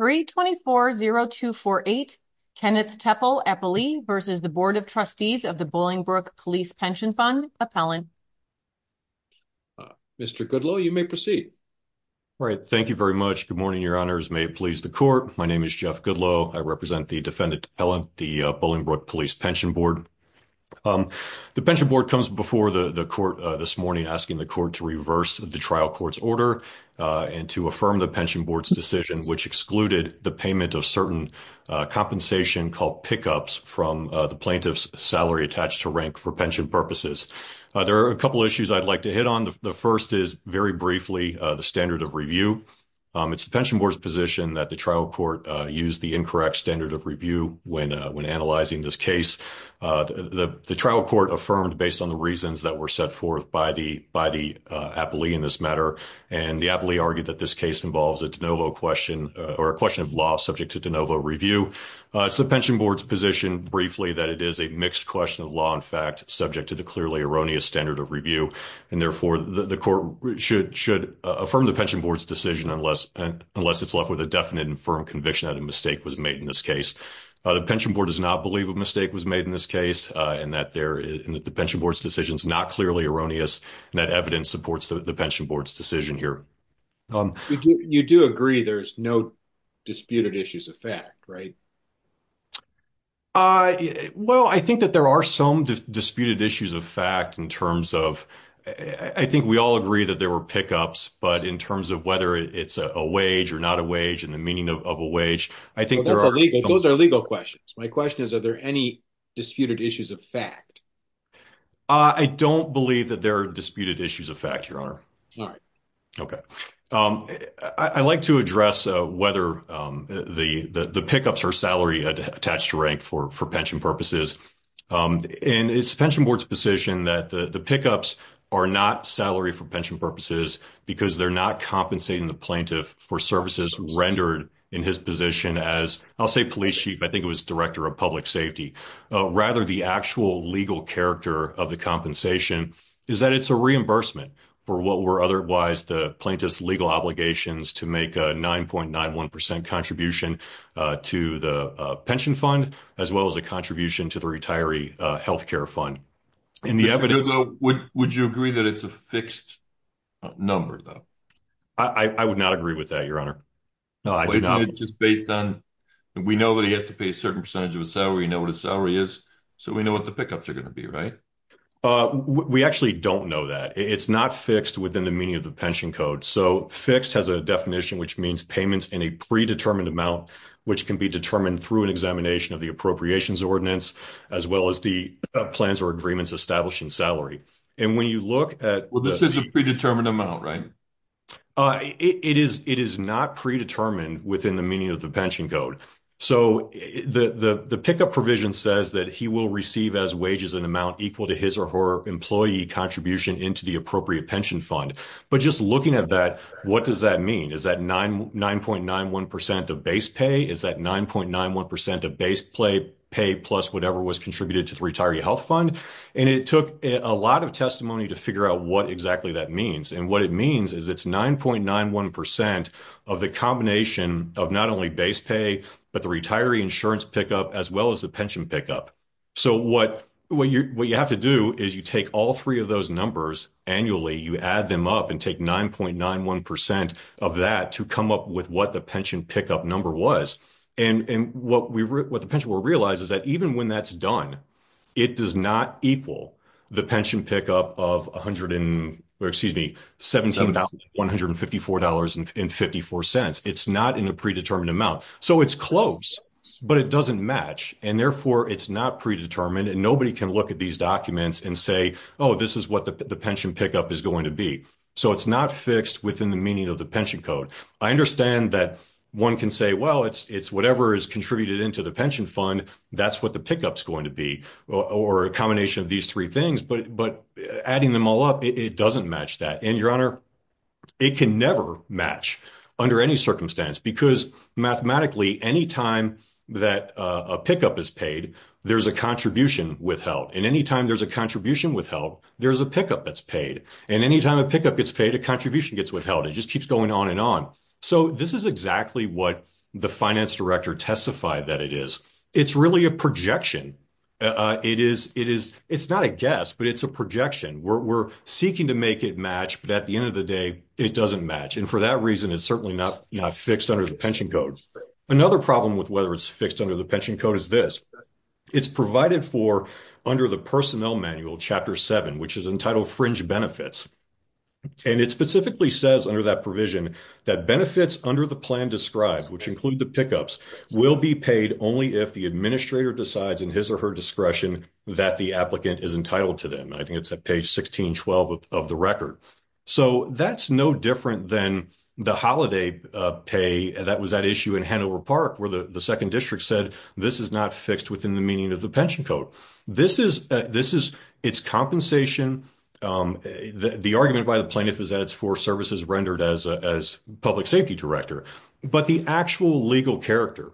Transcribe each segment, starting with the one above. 324-0248, Kenneth Teppel, Eppley v. Board of Trustees of the Bolingbrook Police Pension Fund, Appellant. Mr. Goodloe, you may proceed. All right. Thank you very much. Good morning, your honors. May it please the court. My name is Jeff Goodloe. I represent the defendant, Appellant, the Bolingbrook Police Pension Board. The Pension Board comes before the court this morning asking the court to reverse the trial court's order and to affirm the Pension Board's which excluded the payment of certain compensation called pickups from the plaintiff's salary attached to rank for pension purposes. There are a couple issues I'd like to hit on. The first is, very briefly, the standard of review. It's the Pension Board's position that the trial court used the incorrect standard of review when analyzing this case. The trial court affirmed, based on the reasons that were set forth by the Appellee in this matter, and the Appellee argued that this case involves a de novo question or a question of law subject to de novo review. It's the Pension Board's position, briefly, that it is a mixed question of law, in fact, subject to the clearly erroneous standard of review. And, therefore, the court should affirm the Pension Board's decision unless it's left with a definite and firm conviction that a mistake was made in this case. The Pension Board does not believe a mistake was made in this case and that the Pension Board's decision is not clearly erroneous and that evidence supports the Pension Board's decision here. You do agree there's no disputed issues of fact, right? Well, I think that there are some disputed issues of fact in terms of... I think we all agree that there were pickups, but in terms of whether it's a wage or not a wage and the meaning of a wage, I think there are... Those are legal questions. My question is, are there any disputed issues of fact? I don't believe that there are disputed issues of fact, Your Honor. All right. Okay. I like to address whether the pickups are salary attached to rank for pension purposes. And it's the Pension Board's position that the pickups are not salary for pension purposes because they're not compensating the plaintiff for services rendered in his position as, I'll say, police chief. I think it was director of public safety. Rather, the actual character of the compensation is that it's a reimbursement for what were otherwise the plaintiff's legal obligations to make a 9.91% contribution to the pension fund, as well as a contribution to the retiree healthcare fund. And the evidence... Would you agree that it's a fixed number, though? I would not agree with that, Your Honor. No, I do not. It's just based on... We know that he has to pay a certain percentage of his salary, know what his salary is, so we know what the pickups are going to be, right? We actually don't know that. It's not fixed within the meaning of the pension code. So, fixed has a definition, which means payments in a predetermined amount, which can be determined through an examination of the appropriations ordinance, as well as the plans or agreements established in salary. And when you look at... Well, this is a predetermined amount, right? It is not predetermined within the meaning of the pension code. So, the pickup provision says that he will receive as wages an amount equal to his or her employee contribution into the appropriate pension fund. But just looking at that, what does that mean? Is that 9.91% of base pay? Is that 9.91% of base pay plus whatever was contributed to the retiree health fund? And it took a lot of calculations, but it's 9.91% of the combination of not only base pay, but the retiree insurance pickup, as well as the pension pickup. So, what you have to do is you take all three of those numbers annually, you add them up and take 9.91% of that to come up with what the pension pickup number was. And what the pension board realizes that even when that's done, it does not equal the pension pickup of $17,154.54. It's not in a predetermined amount. So, it's close, but it doesn't match. And therefore, it's not predetermined and nobody can look at these documents and say, oh, this is what the pension pickup is going to be. So, it's not fixed within the meaning of the pension code. I understand that one can say, well, it's whatever is contributed into the pension fund, that's what the pickup is going to be, or a combination of these three things, but adding them all up, it doesn't match that. And your honor, it can never match under any circumstance because mathematically, anytime that a pickup is paid, there's a contribution withheld. And anytime there's a contribution withheld, there's a pickup that's paid. And anytime a pickup gets paid, a contribution gets withheld. It just keeps going on and on. So, this is exactly what the finance director testified that it is. It's really a projection. It's not a guess, but it's a projection. We're seeking to make it match, but at the end of the day, it doesn't match. And for that reason, it's certainly not fixed under the pension code. Another problem with whether it's fixed under the pension code is this, it's provided for under the personnel manual, chapter seven, which is entitled fringe benefits. And it specifically says under that provision that benefits under the plan described, which include the pickups, will be paid only if the administrator decides in his or her discretion that the applicant is entitled to them. I think it's at page 1612 of the record. So, that's no different than the holiday pay that was at issue in Hanover Park, where the second district said, this is not fixed within the meaning of the pension code. This is its compensation. The argument by the plaintiff is that it's for services rendered as public safety director. But the actual legal character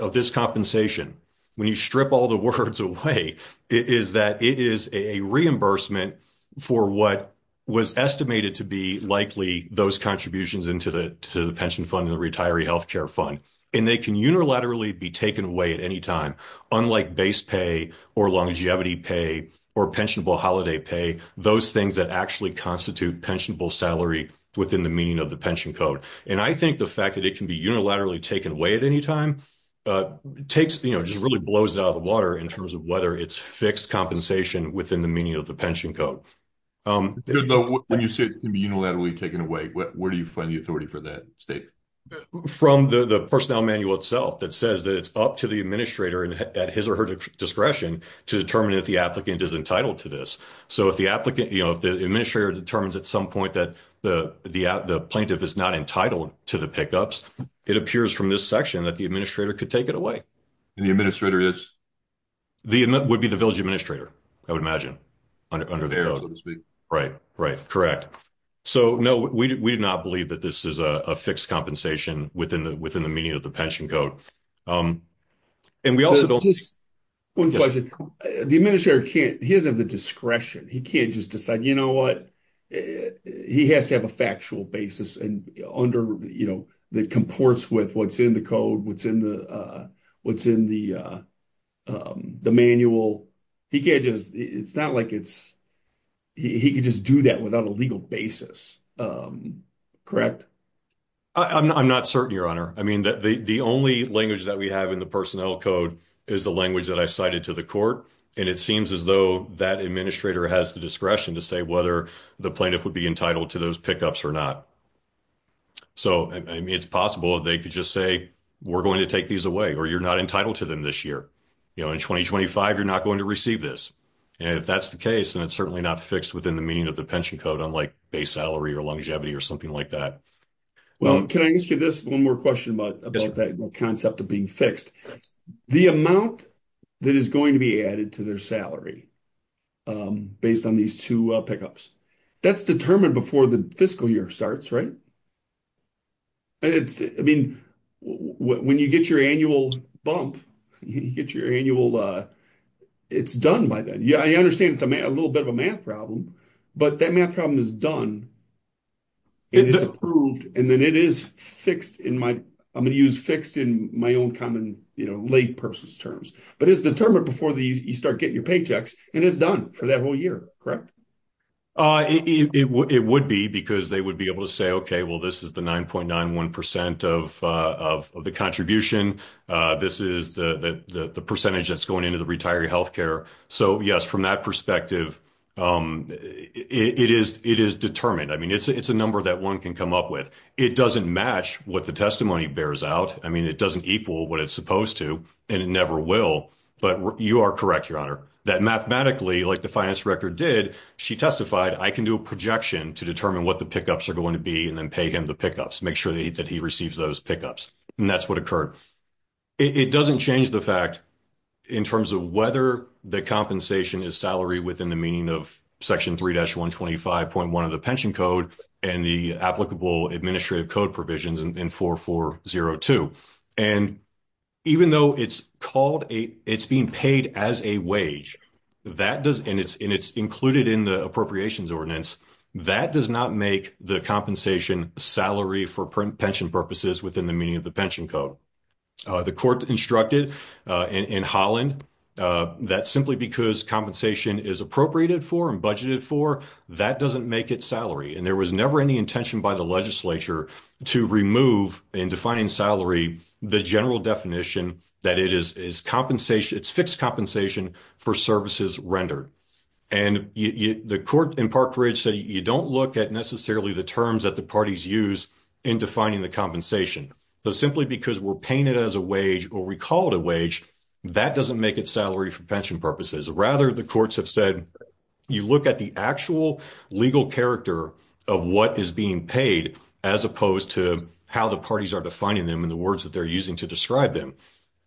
of this compensation, when you strip all the words away, is that it is a reimbursement for what was estimated to be likely those contributions into the pension fund and the retiree health care fund. And they can unilaterally be taken away at any time, unlike base pay, or longevity pay, or pensionable holiday pay, those things that actually constitute pensionable salary within the meaning of the pension code. And I think the fact that it can be unilaterally taken away at any time takes, you know, just really blows it out of the water in terms of whether it's fixed compensation within the meaning of the pension code. Good note, when you say it can be unilaterally taken away, where do you find the authority for that statement? From the personnel manual itself that says that it's up to the administrator at his or her discretion to determine if the applicant is entitled to this. So if the applicant, you know, if the administrator determines at some point that the plaintiff is not entitled to the pickups, it appears from this section that the administrator could take it away. And the administrator is? Would be the village administrator, I would imagine, under the code, so to speak. Right, right, correct. So no, we did not believe that this is a fixed compensation within the meaning of the pension code. And we also don't. One question, the administrator can't, he doesn't have the discretion, he can't just decide, you know what, he has to have a factual basis and under, you know, that comports with what's in the code, what's in the manual. He can't just, it's not like it's, he could just do that without a legal basis, correct? I'm not certain, your honor. I mean, the only language that we have in the personnel code is the language that I cited to the court. And it seems as though that administrator has the discretion to say whether the plaintiff would be entitled to those pickups or not. So, I mean, it's possible they could just say, we're going to take these away or you're not going to receive this. And if that's the case, then it's certainly not fixed within the meaning of the pension code, unlike base salary or longevity or something like that. Well, can I ask you this one more question about that concept of being fixed? The amount that is going to be added to their salary based on these two pickups, that's determined before the fiscal year starts, right? I mean, when you get your annual bump, you get your annual, it's done by then. I understand it's a little bit of a math problem, but that math problem is done and it's approved. And then it is fixed in my, I'm going to use fixed in my own common, you know, lay person's terms. But it's determined before you start getting your paychecks and it's correct? It would be because they would be able to say, okay, well, this is the 9.91% of the contribution. This is the percentage that's going into the retiree healthcare. So yes, from that perspective, it is determined. I mean, it's a number that one can come up with. It doesn't match what the testimony bears out. I mean, it doesn't equal what it's supposed to and it never will. But you are correct, Your Honor, that mathematically, like the finance director did, she testified, I can do a projection to determine what the pickups are going to be and then pay him the pickups, make sure that he receives those pickups. And that's what occurred. It doesn't change the fact in terms of whether the compensation is salary within the meaning of section 3-125.1 of the pension code and the applicable administrative code provisions in 4402. And even though it's being paid as a wage and it's included in the appropriations ordinance, that does not make the compensation salary for pension purposes within the meaning of the pension code. The court instructed in Holland that simply because compensation is appropriated for and budgeted for, that doesn't make it salary. And there was never any intention by the legislature to remove in defining salary, the general definition that it is compensation, it's fixed compensation for services rendered. And the court in Park Ridge said, you don't look at necessarily the terms that the parties use in defining the compensation. So simply because we're paying it as a wage or we call it a wage, that doesn't make it salary for pension purposes. Rather, the courts have said, you look at the actual legal character of what is being paid as opposed to how the parties are defining them and the words that they're using to describe them.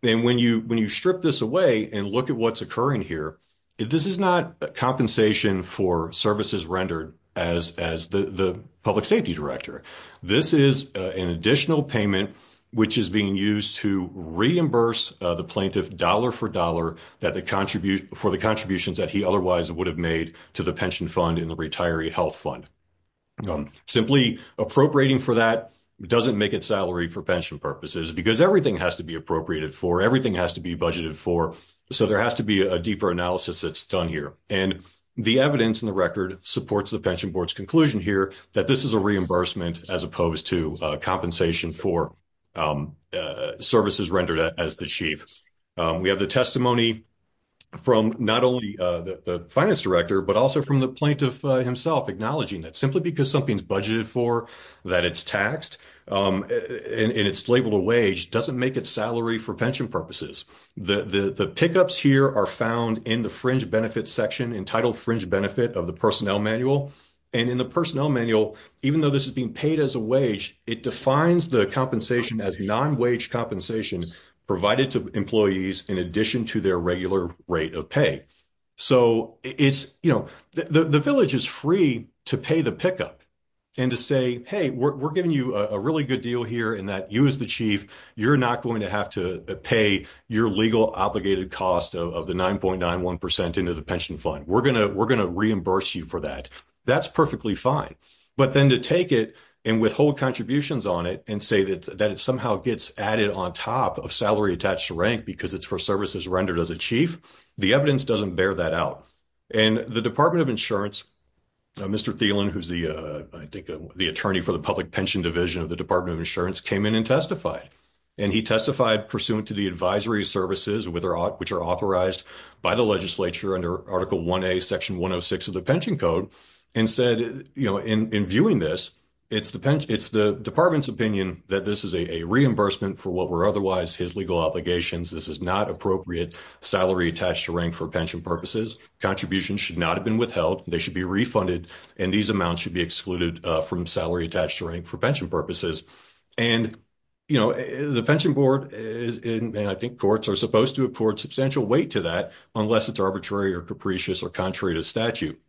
And when you strip this away and look at what's occurring here, this is not a compensation for services rendered as the public safety director. This is an additional payment, which is being used to reimburse the plaintiff dollar for dollar for the contributions that he otherwise would have made to the pension fund in the retiree health fund. Simply appropriating for that doesn't make it salary for pension purposes because everything has to be appropriated for, everything has to be budgeted for. So there has to be a deeper analysis that's done here. And the evidence in the record supports the pension board's conclusion here that this is a reimbursement as opposed to a services rendered as the chief. We have the testimony from not only the finance director, but also from the plaintiff himself acknowledging that simply because something's budgeted for, that it's taxed, and it's labeled a wage, doesn't make it salary for pension purposes. The pickups here are found in the fringe benefit section, entitled fringe benefit of the personnel manual. And in the personnel manual, even though this is being paid as a wage, it defines the compensation as non-wage compensation provided to employees in addition to their regular rate of pay. So it's, you know, the village is free to pay the pickup and to say, hey, we're giving you a really good deal here in that you as the chief, you're not going to have to pay your legal obligated cost of the 9.91% into the pension fund. We're going to reimburse you for that. That's perfectly fine. But then to take it and withhold contributions on it and say that it somehow gets added on top of salary attached to rank because it's for services rendered as a chief, the evidence doesn't bear that out. And the Department of Insurance, Mr. Thielen, who's the, I think the attorney for the public pension division of the Department of Insurance, came in and testified. And he testified pursuant to the advisory services which are authorized by the and said, you know, in viewing this, it's the department's opinion that this is a reimbursement for what were otherwise his legal obligations. This is not appropriate salary attached to rank for pension purposes. Contributions should not have been withheld. They should be refunded. And these amounts should be excluded from salary attached to rank for pension purposes. And, you know, the pension board and I think courts are supposed to afford substantial weight to that unless it's arbitrary or capricious or contrary to statute.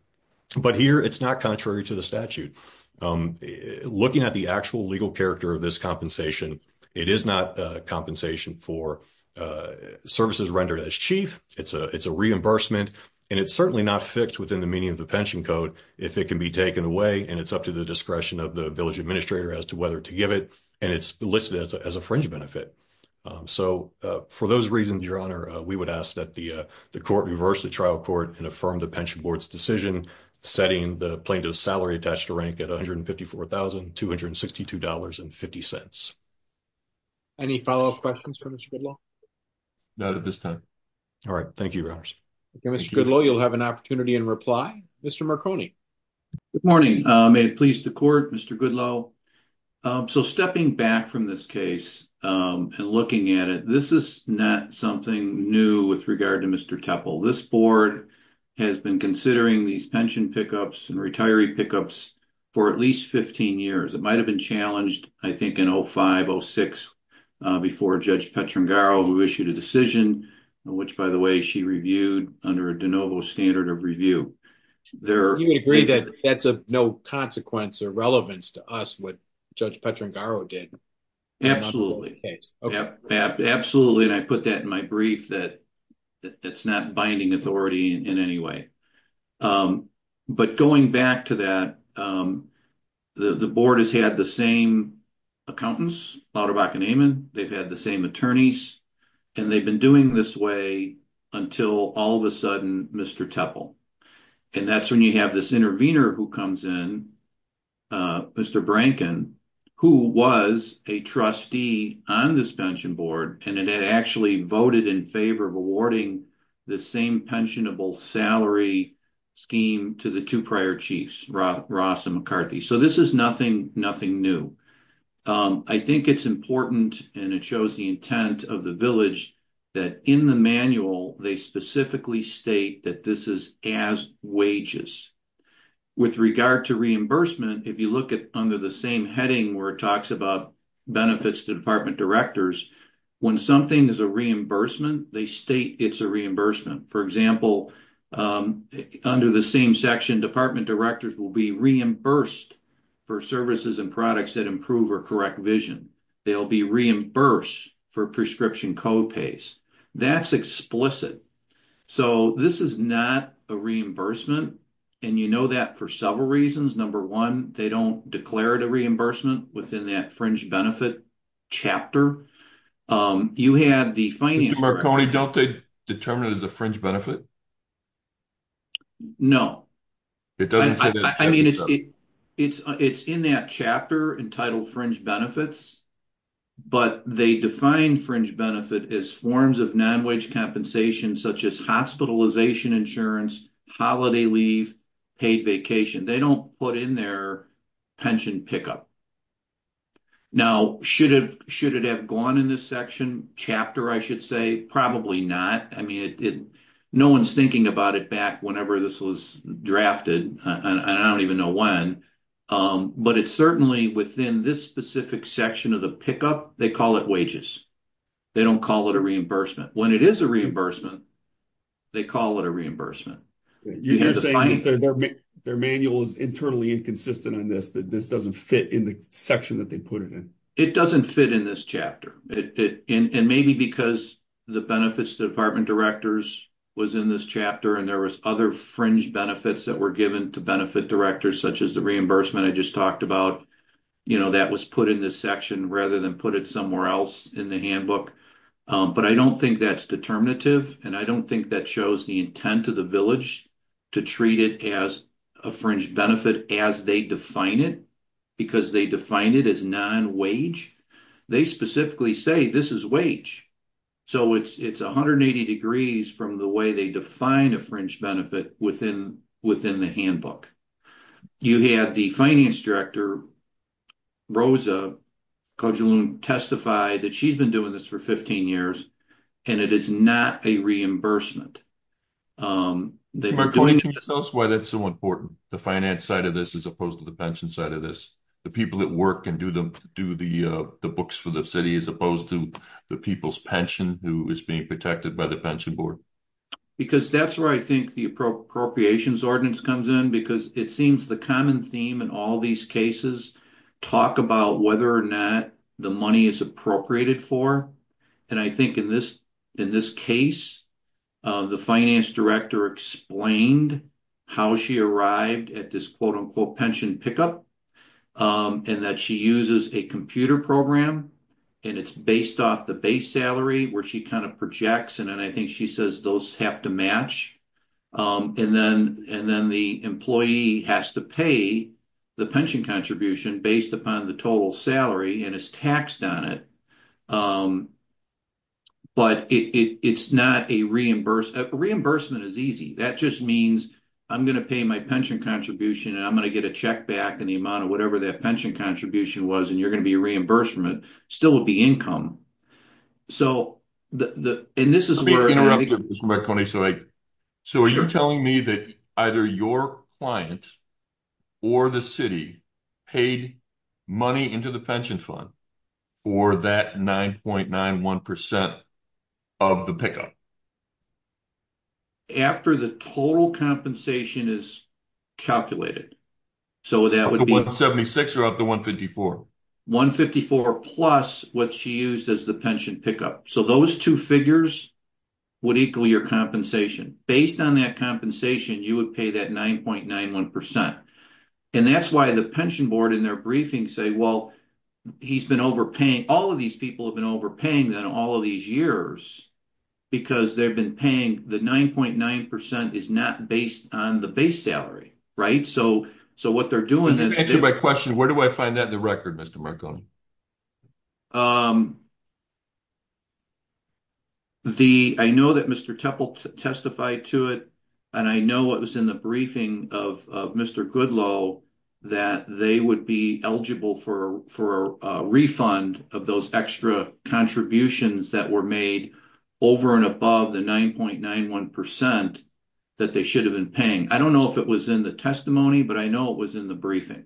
But here, it's not contrary to the statute. Looking at the actual legal character of this compensation, it is not compensation for services rendered as chief. It's a reimbursement. And it's certainly not fixed within the meaning of the pension code if it can be taken away and it's up to the discretion of the village administrator as to whether to give it. And it's listed as a fringe benefit. So for those reasons, Your Honor, we would ask that the court reverse the trial court and affirm the pension board's decision setting the plaintiff's salary attached to rank at $154,262.50. Any follow-up questions for Mr. Goodloe? Not at this time. All right. Thank you, Your Honors. Mr. Goodloe, you'll have an opportunity in reply. Mr. Marconi. Good morning. May it please the court, Mr. Goodloe. So stepping back from this case and looking at it, this is not something new with regard to Mr. Tepl. This board has been considering these pension pickups and retiree pickups for at least 15 years. It might have been challenged, I think, in 05-06 before Judge Petrangaro, who issued a decision, which, by the way, she reviewed under a de novo standard of review. You agree that that's of no consequence or relevance to us what Judge Petrangaro did? Absolutely. Absolutely. And I put that in my brief that it's not binding authority in any way. But going back to that, the board has had the same accountants, Lauterbach and Amon. They've had the same attorneys. And they've been doing this way until all of a sudden Mr. Tepl. And that's when you have this intervener who comes in, Mr. Branken, who was a trustee on this pension board. And it had actually voted in favor of awarding the same pensionable salary scheme to the two prior chiefs, Ross and McCarthy. So this is nothing new. I think it's important, and it shows the intent of the village, that in the manual, they specifically state that this is as wages. With regard to reimbursement, if you look at under the same heading where it talks about benefits to department directors, when something is a reimbursement, they state it's a reimbursement. For example, under the same section, department directors will be reimbursed for services and products that improve or correct vision. They'll be reimbursed for prescription co-pays. That's explicit. So this is not a reimbursement. And you know that for several reasons. Number one, they don't declare it a reimbursement within that fringe benefit chapter. You have the finance... Mr. Marconi, don't they determine it as a fringe benefits? But they define fringe benefit as forms of non-wage compensation, such as hospitalization insurance, holiday leave, paid vacation. They don't put in their pension pickup. Now, should it have gone in this section, chapter, I should say? Probably not. I mean, no one's thinking about it back whenever this was drafted. I don't even know when. But it's certainly within this specific section of the pickup, they call it wages. They don't call it a reimbursement. When it is a reimbursement, they call it a reimbursement. Their manual is internally inconsistent on this, that this doesn't fit in the section that they put it in. It doesn't fit in this chapter. And maybe because the benefits to department directors was in this chapter and there was other fringe benefits that were given to benefit directors, such as the reimbursement I just talked about, that was put in this section rather than put it somewhere else in the handbook. But I don't think that's determinative. And I don't think that shows the intent of the village to treat it as a fringe benefit as they define it, because they define it as non-wage. They specifically say this is wage. So it's 180 degrees from the way they define a fringe benefit within the handbook. You had the finance director, Rosa Kojulun, testify that she's been doing this for 15 years and it is not a reimbursement. That's why that's so important, the finance side of this as opposed to the pension side of this. The people that work and do the books for the city as opposed to the people's pension who is being protected by the pension board. Because that's where I think the appropriations ordinance comes in, because it seems the common theme in all these cases talk about whether or not the money is appropriated for. And I think in this case, the finance director explained how she arrived at this quote-unquote pension pickup and that she uses a computer program and it's based off the base salary where she kind of projects. And then I think she says those have to match. And then the employee has to pay the pension contribution based upon the total salary and is taxed on it. But it's not a reimbursement. Reimbursement is easy. That just means I'm going to pay my pension contribution and I'm going to get a check back in the amount of whatever that pension contribution was and you're going to be a reimbursement, still would be income. So, and this is where- Let me interrupt you, Mr. Marconi. So, are you telling me that either your client or the city paid money into the pension fund for that 9.91% of the pickup? After the total compensation is calculated. So, that would be- Of the 176 or of the 154? 154 plus what she used as the pension pickup. So, those two figures would equal your compensation. Based on that compensation, you would pay that 9.91%. And that's why the pension board in their briefing say, well, he's been overpaying. All of these people have been overpaying then all of these years. Because they've been paying the 9.9% is not based on the base salary. Right? So, what they're doing- To answer my question, where do I find that in the record, Mr. Marconi? I know that Mr. Tepple testified to it. And I know what was in the briefing of Mr. Goodlow, that they would be eligible for a refund of those extra contributions that were made over and above the 9.91% that they should have been paying. I don't know if it was in the testimony, but I know it was in the briefing.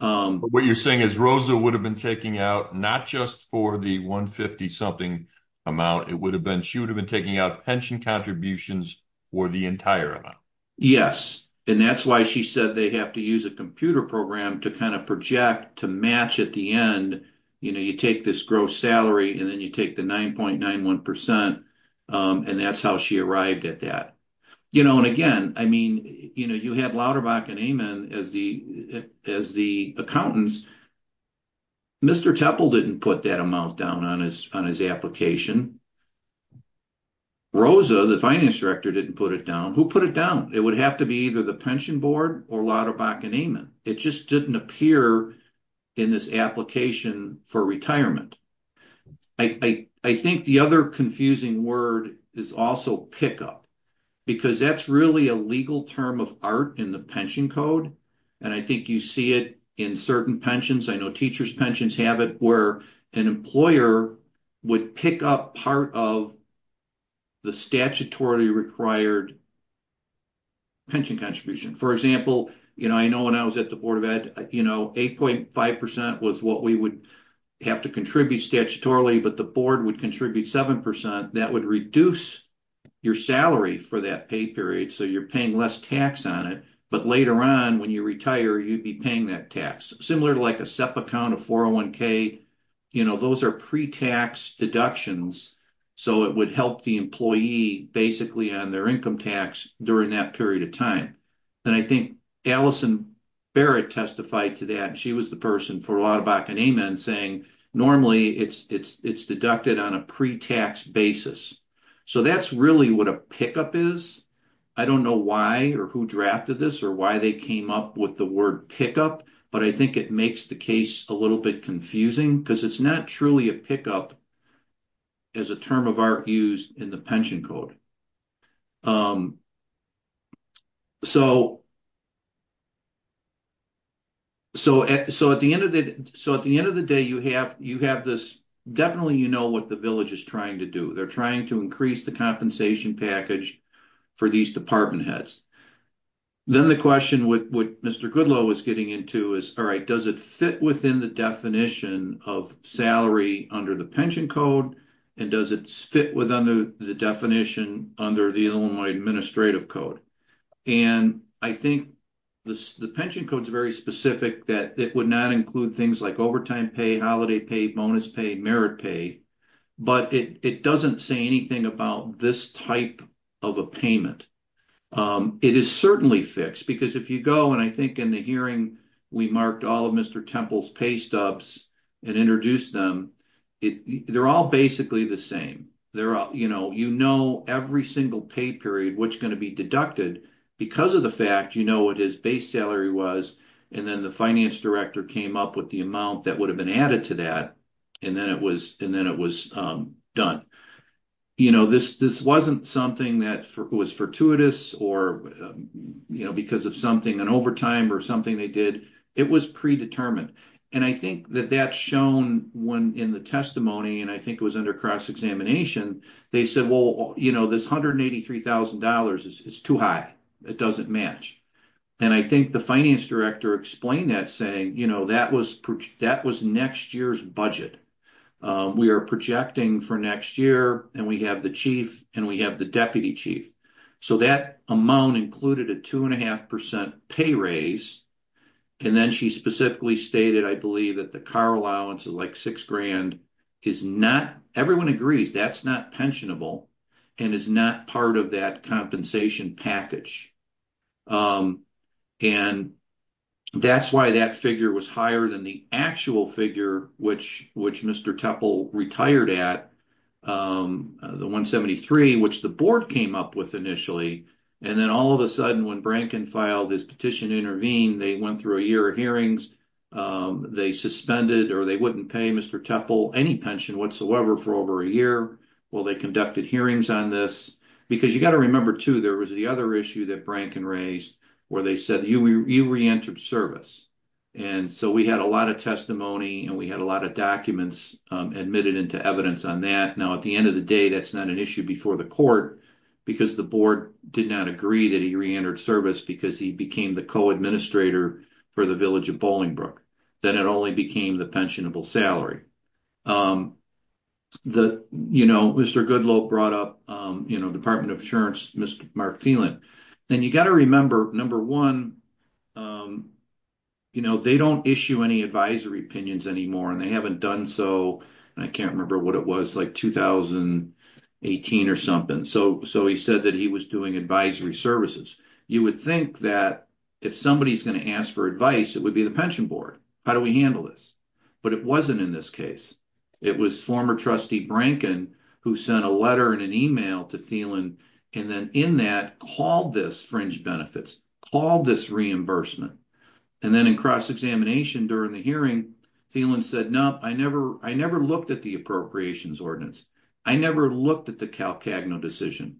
What you're saying is Rosa would have been taking out not just for the 150 something amount. It would have been, she would have been taking out pension contributions for the entire amount. Yes. And that's why she said they have to use a computer program to kind of project to match at the end. You know, you take this gross salary and then you take the 9.91%. And that's how she arrived at that. You know, and again, I mean, you know, you have Lauterbach and Amen as the accountants. Mr. Tepple didn't put that amount down on his application. Rosa, the finance director, didn't put it down. Who put it down? It would have to be either the pension board or Lauterbach and Amen. It just didn't appear in this application for retirement. I think the other confusing word is also pickup, because that's really a legal term of art in the pension code. And I think you see it in certain pensions. I know pickup part of the statutorily required pension contribution. For example, you know, I know when I was at the Board of Ed, you know, 8.5% was what we would have to contribute statutorily, but the board would contribute 7%. That would reduce your salary for that pay period. So you're paying less tax on it. But later on, when you retire, you'd be paying that tax. Similar to like SEPA count of 401k, you know, those are pre-tax deductions. So it would help the employee basically on their income tax during that period of time. And I think Allison Barrett testified to that. She was the person for Lauterbach and Amen saying normally it's deducted on a pre-tax basis. So that's really what a pickup is. I don't know why or who drafted this or why they came up with the word pickup, but I think it makes the case a little bit confusing because it's not truly a pickup as a term of art used in the pension code. So at the end of the day, you have this, definitely you know what the village is trying to do. They're trying to increase the compensation package for these department heads. Then the question with what Mr. Goodlow was getting into is, all right, does it fit within the definition of salary under the pension code? And does it fit within the definition under the Illinois Administrative Code? And I think the pension code is very specific that it would not include things like overtime pay, holiday pay, bonus pay, merit pay, but it doesn't say anything about this type of a payment. It is certainly fixed because if you go, and I think in the hearing we marked all of Mr. Temple's pay stubs and introduced them, they're all basically the same. You know every single pay period, what's going to be deducted because of the fact you know what his base salary was and then the finance director came up with the amount that would have been added to that and then it was done. You know this wasn't something that was fortuitous or you know because of something, an overtime or something they did. It was predetermined. And I think that that's shown when in the testimony and I think it was under cross-examination, they said well you know this $183,000 is too high. It doesn't match. And I think the finance director explained that saying you know that was next year's budget. We are projecting for next year and we have the chief and we have the deputy chief. So that amount included a two and a half percent pay raise and then she specifically stated I believe that the car allowance of like six grand is not, everyone agrees, that's not pensionable and is not part of that compensation package. And that's why that figure was higher than the actual figure which Mr. Tepl retired at, the $173,000 which the board came up with initially. And then all of a sudden when Brankin filed his petition to intervene, they went through a year of hearings. They suspended or they wouldn't pay Mr. Tepl any pension whatsoever for over a year while they conducted hearings on this. Because you got to remember too there was the other issue that Brankin raised where they said you re-entered service. And so we had a lot of testimony and we had a lot of documents admitted into evidence on that. Now at the end of the day that's not an issue before the court because the board did not agree that he re-entered service because he became the co-administrator for the village of Bolingbrook. Then it only became the salary. Mr. Goodlope brought up the Department of Insurance, Mr. Mark Thielen. And you got to remember, number one, they don't issue any advisory opinions anymore and they haven't done so, and I can't remember what it was, like 2018 or something. So he said that he was doing advisory services. You would think that if somebody's going to ask for advice it would be the Pension Board. How do we handle this? But it wasn't in this case. It was former trustee Brankin who sent a letter and an email to Thielen and then in that called this fringe benefits, called this reimbursement. And then in cross-examination during the hearing Thielen said, no, I never looked at the appropriations ordinance. I never looked at the Calcagno decision.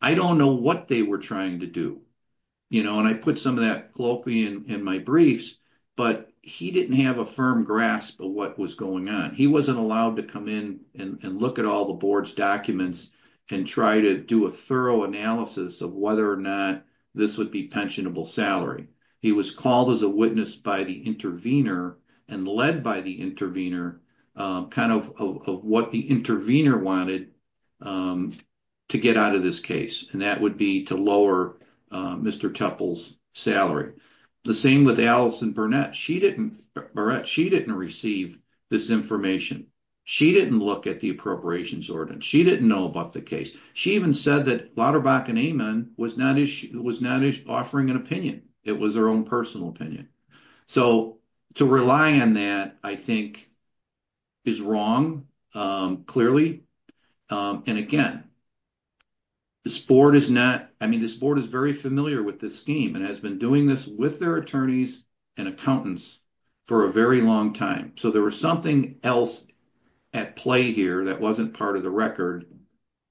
I don't know what they were to do. And I put some of that globally in my briefs, but he didn't have a firm grasp of what was going on. He wasn't allowed to come in and look at all the board's documents and try to do a thorough analysis of whether or not this would be pensionable salary. He was called as a witness by the intervener and led by the intervener, kind of what the intervener wanted to get out of this case. And that would be to lower Mr. Tupple's salary. The same with Alison Burnett. She didn't receive this information. She didn't look at the appropriations ordinance. She didn't know about the case. She even said that Lauterbach and Amon was not offering an opinion. It was their own opinion. So to rely on that, I think, is wrong, clearly. And again, this board is not, I mean, this board is very familiar with this scheme and has been doing this with their attorneys and accountants for a very long time. So there was something else at play here that wasn't part of the record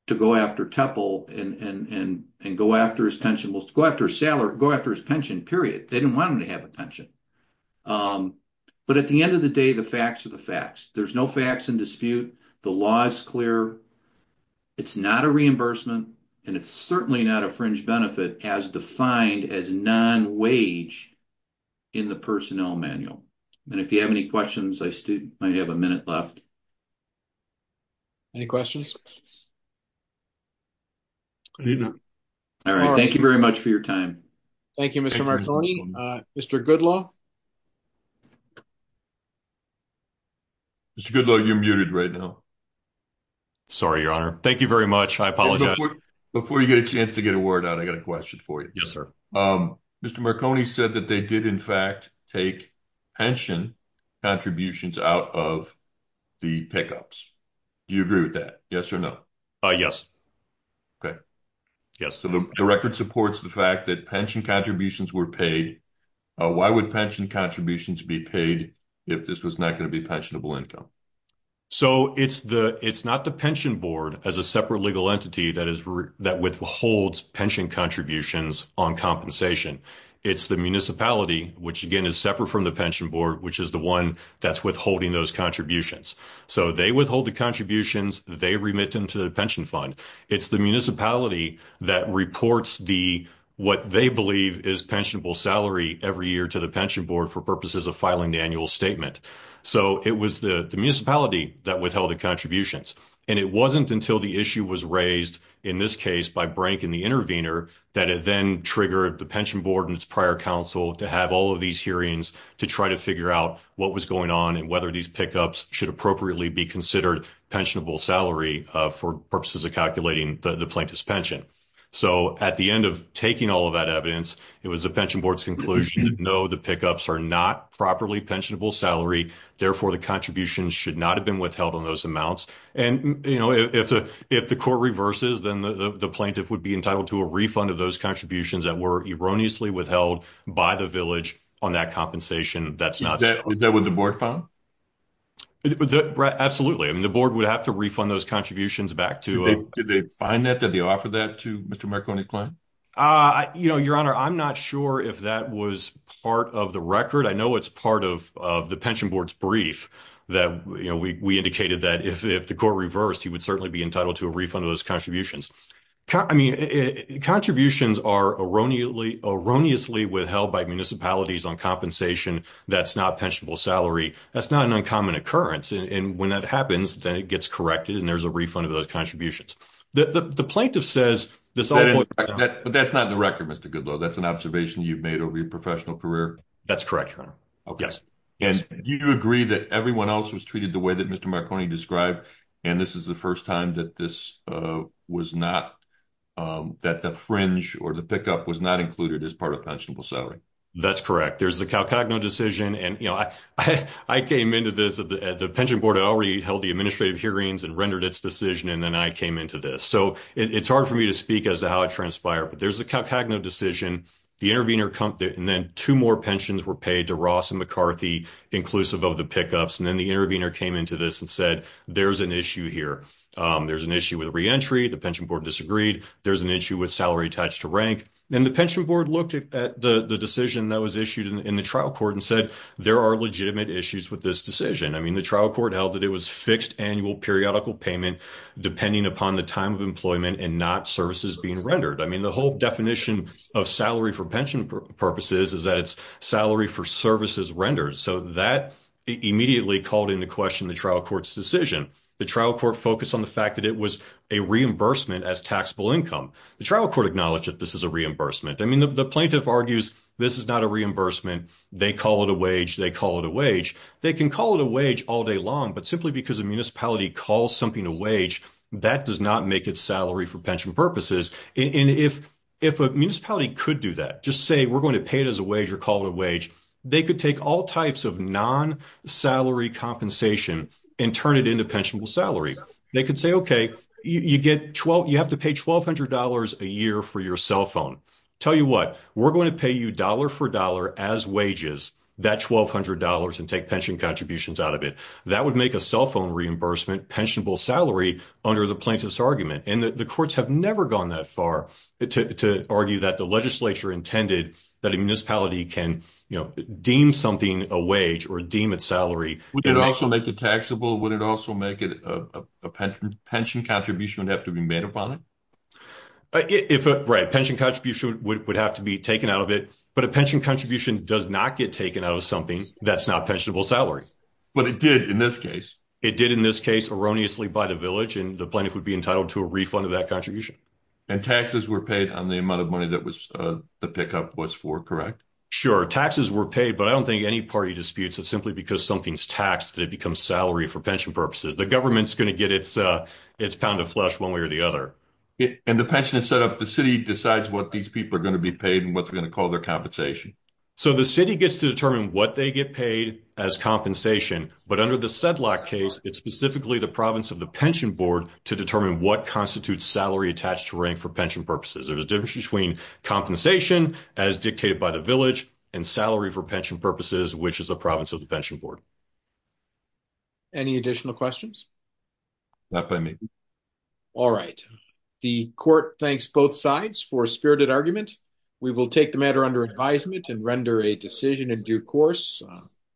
to go after Tupple and go after his pension, go after his pension, period. They didn't want him to have a pension. But at the end of the day, the facts are the facts. There's no facts in dispute. The law is clear. It's not a reimbursement and it's certainly not a fringe benefit as defined as non-wage in the personnel manual. And if you have any questions, I might have a minute left. Any questions? All right. Thank you very much for your time. Thank you, Mr. Marconi. Mr. Goodlaw. Mr. Goodlaw, you're muted right now. Sorry, your honor. Thank you very much. I apologize. Before you get a chance to get a word out, I got a question for you. Yes, sir. Mr. Marconi said that they did in fact take pension contributions out of the pickups. Do you agree with that? Yes or no? Yes. Okay. Yes. So the record supports the fact that pension contributions were paid. Why would pension contributions be paid if this was not going to be pensionable income? So it's not the pension board as a separate legal entity that withholds pension contributions on compensation. It's the municipality, which again is separate from the pension board, which is the one that's withholding those contributions. So they withhold the contributions. They remit them to the pension fund. It's the municipality that reports what they believe is pensionable salary every year to the pension board for purposes of filing the annual statement. So it was the municipality that withheld the contributions. And it wasn't until the issue was raised in this case by Brank and the intervener that it then triggered the pension board and its prior council to have all of these hearings to try to figure out what was going on and whether these pickups should appropriately be considered pensionable salary for purposes of calculating the plaintiff's pension. So at the end of taking all of that evidence, it was the pension board's conclusion, no, the pickups are not properly pensionable salary. Therefore, the contributions should not have been withheld on those amounts. And if the court reverses, then the plaintiff would be entitled to a refund of those contributions that were erroneously withheld by the village on that compensation. That's not- Is that what the board found? Absolutely. I mean, the board would have to refund those contributions back to- Did they find that? Did they offer that to Mr. Marconi's client? Your Honor, I'm not sure if that was part of the record. I know it's part of the pension board's brief that we indicated that if the court reversed, he would certainly be entitled to a refund of those contributions. I mean, contributions are erroneously withheld by municipalities on compensation. That's not pensionable salary. That's not an uncommon occurrence. And when that happens, then it gets corrected and there's a refund of those contributions. The plaintiff says- But that's not in the record, Mr. Goodlaw. That's an observation you've made over your professional career? That's correct, Your Honor. Yes. And you do agree that everyone else was treated the way that Mr. Marconi described, and this is the first time that the fringe or the pickup was not included as part of pensionable salary? That's correct. There's the CalCagno decision, and I came into this- The pension board had already held the administrative hearings and rendered its decision, and then I came into this. So it's hard for me to speak as to how it transpired, but there's the CalCagno decision, the intervener, and then two more pensions were paid to Ross and McCarthy, inclusive of the pickups. And then the intervener came into this and said, there's an issue here. There's an issue with reentry. The pension board disagreed. There's an issue with salary attached to rank. And the pension board looked at the decision that was issued in the trial court and said, there are legitimate issues with this decision. I mean, the trial court held that it was fixed annual periodical payment depending upon the time of employment and not services being rendered. I mean, the whole definition of salary for pension purposes is that it's salary for services rendered. So that immediately called into question the trial court's decision. The trial court focused on the fact that it was a reimbursement as taxable income. The trial court acknowledged that this is a reimbursement. I mean, the plaintiff argues this is not a reimbursement. They call it a wage. They call it a wage. They can call it a wage all day long, but simply because a municipality calls something a wage, that does not make it salary for pension purposes. And if a municipality could do that, just say we're going to pay it as a wage or call it a wage, they could take all types of non-salary compensation and turn it into pensionable salary. They could say, okay, you have to pay $1,200 a year for your cell phone. Tell you what, we're going to pay you dollar for dollar as wages, that $1,200 and take pension contributions out of it. That would make a cell phone reimbursement pensionable salary under the plaintiff's argument. And the courts have never gone that far to argue that the legislature intended that a municipality can deem something a wage or deem it salary. Would it also make it taxable? Would it also make it a pension contribution would have to be made upon it? Right. Pension contribution would have to be taken out of it, but a pension contribution does not get taken out of something that's not pensionable salary. But it did in this case. It did in this case erroneously by the village and the plaintiff would be entitled to a refund of that contribution. And taxes were paid on the amount of money that the pickup was for, correct? Sure. Taxes were paid, but I don't think any party disputes it simply because something's taxed, it becomes salary for pension purposes. The government's going to get its pound of flesh one way or the other. And the pension is set up, the city decides what these people are going to be paid and what they're going to call their compensation. So the city gets to determine what they get paid as compensation, but under the Sedlock case, it's specifically the province of the pension board to determine what constitutes salary attached to rank for pension purposes. There's a difference between compensation as dictated by the village and salary for pension purposes, which is the province of the pension board. Any additional questions? Not by me. All right. The court thanks both sides for spirited argument. We will take the matter under advisement and render a decision in due course.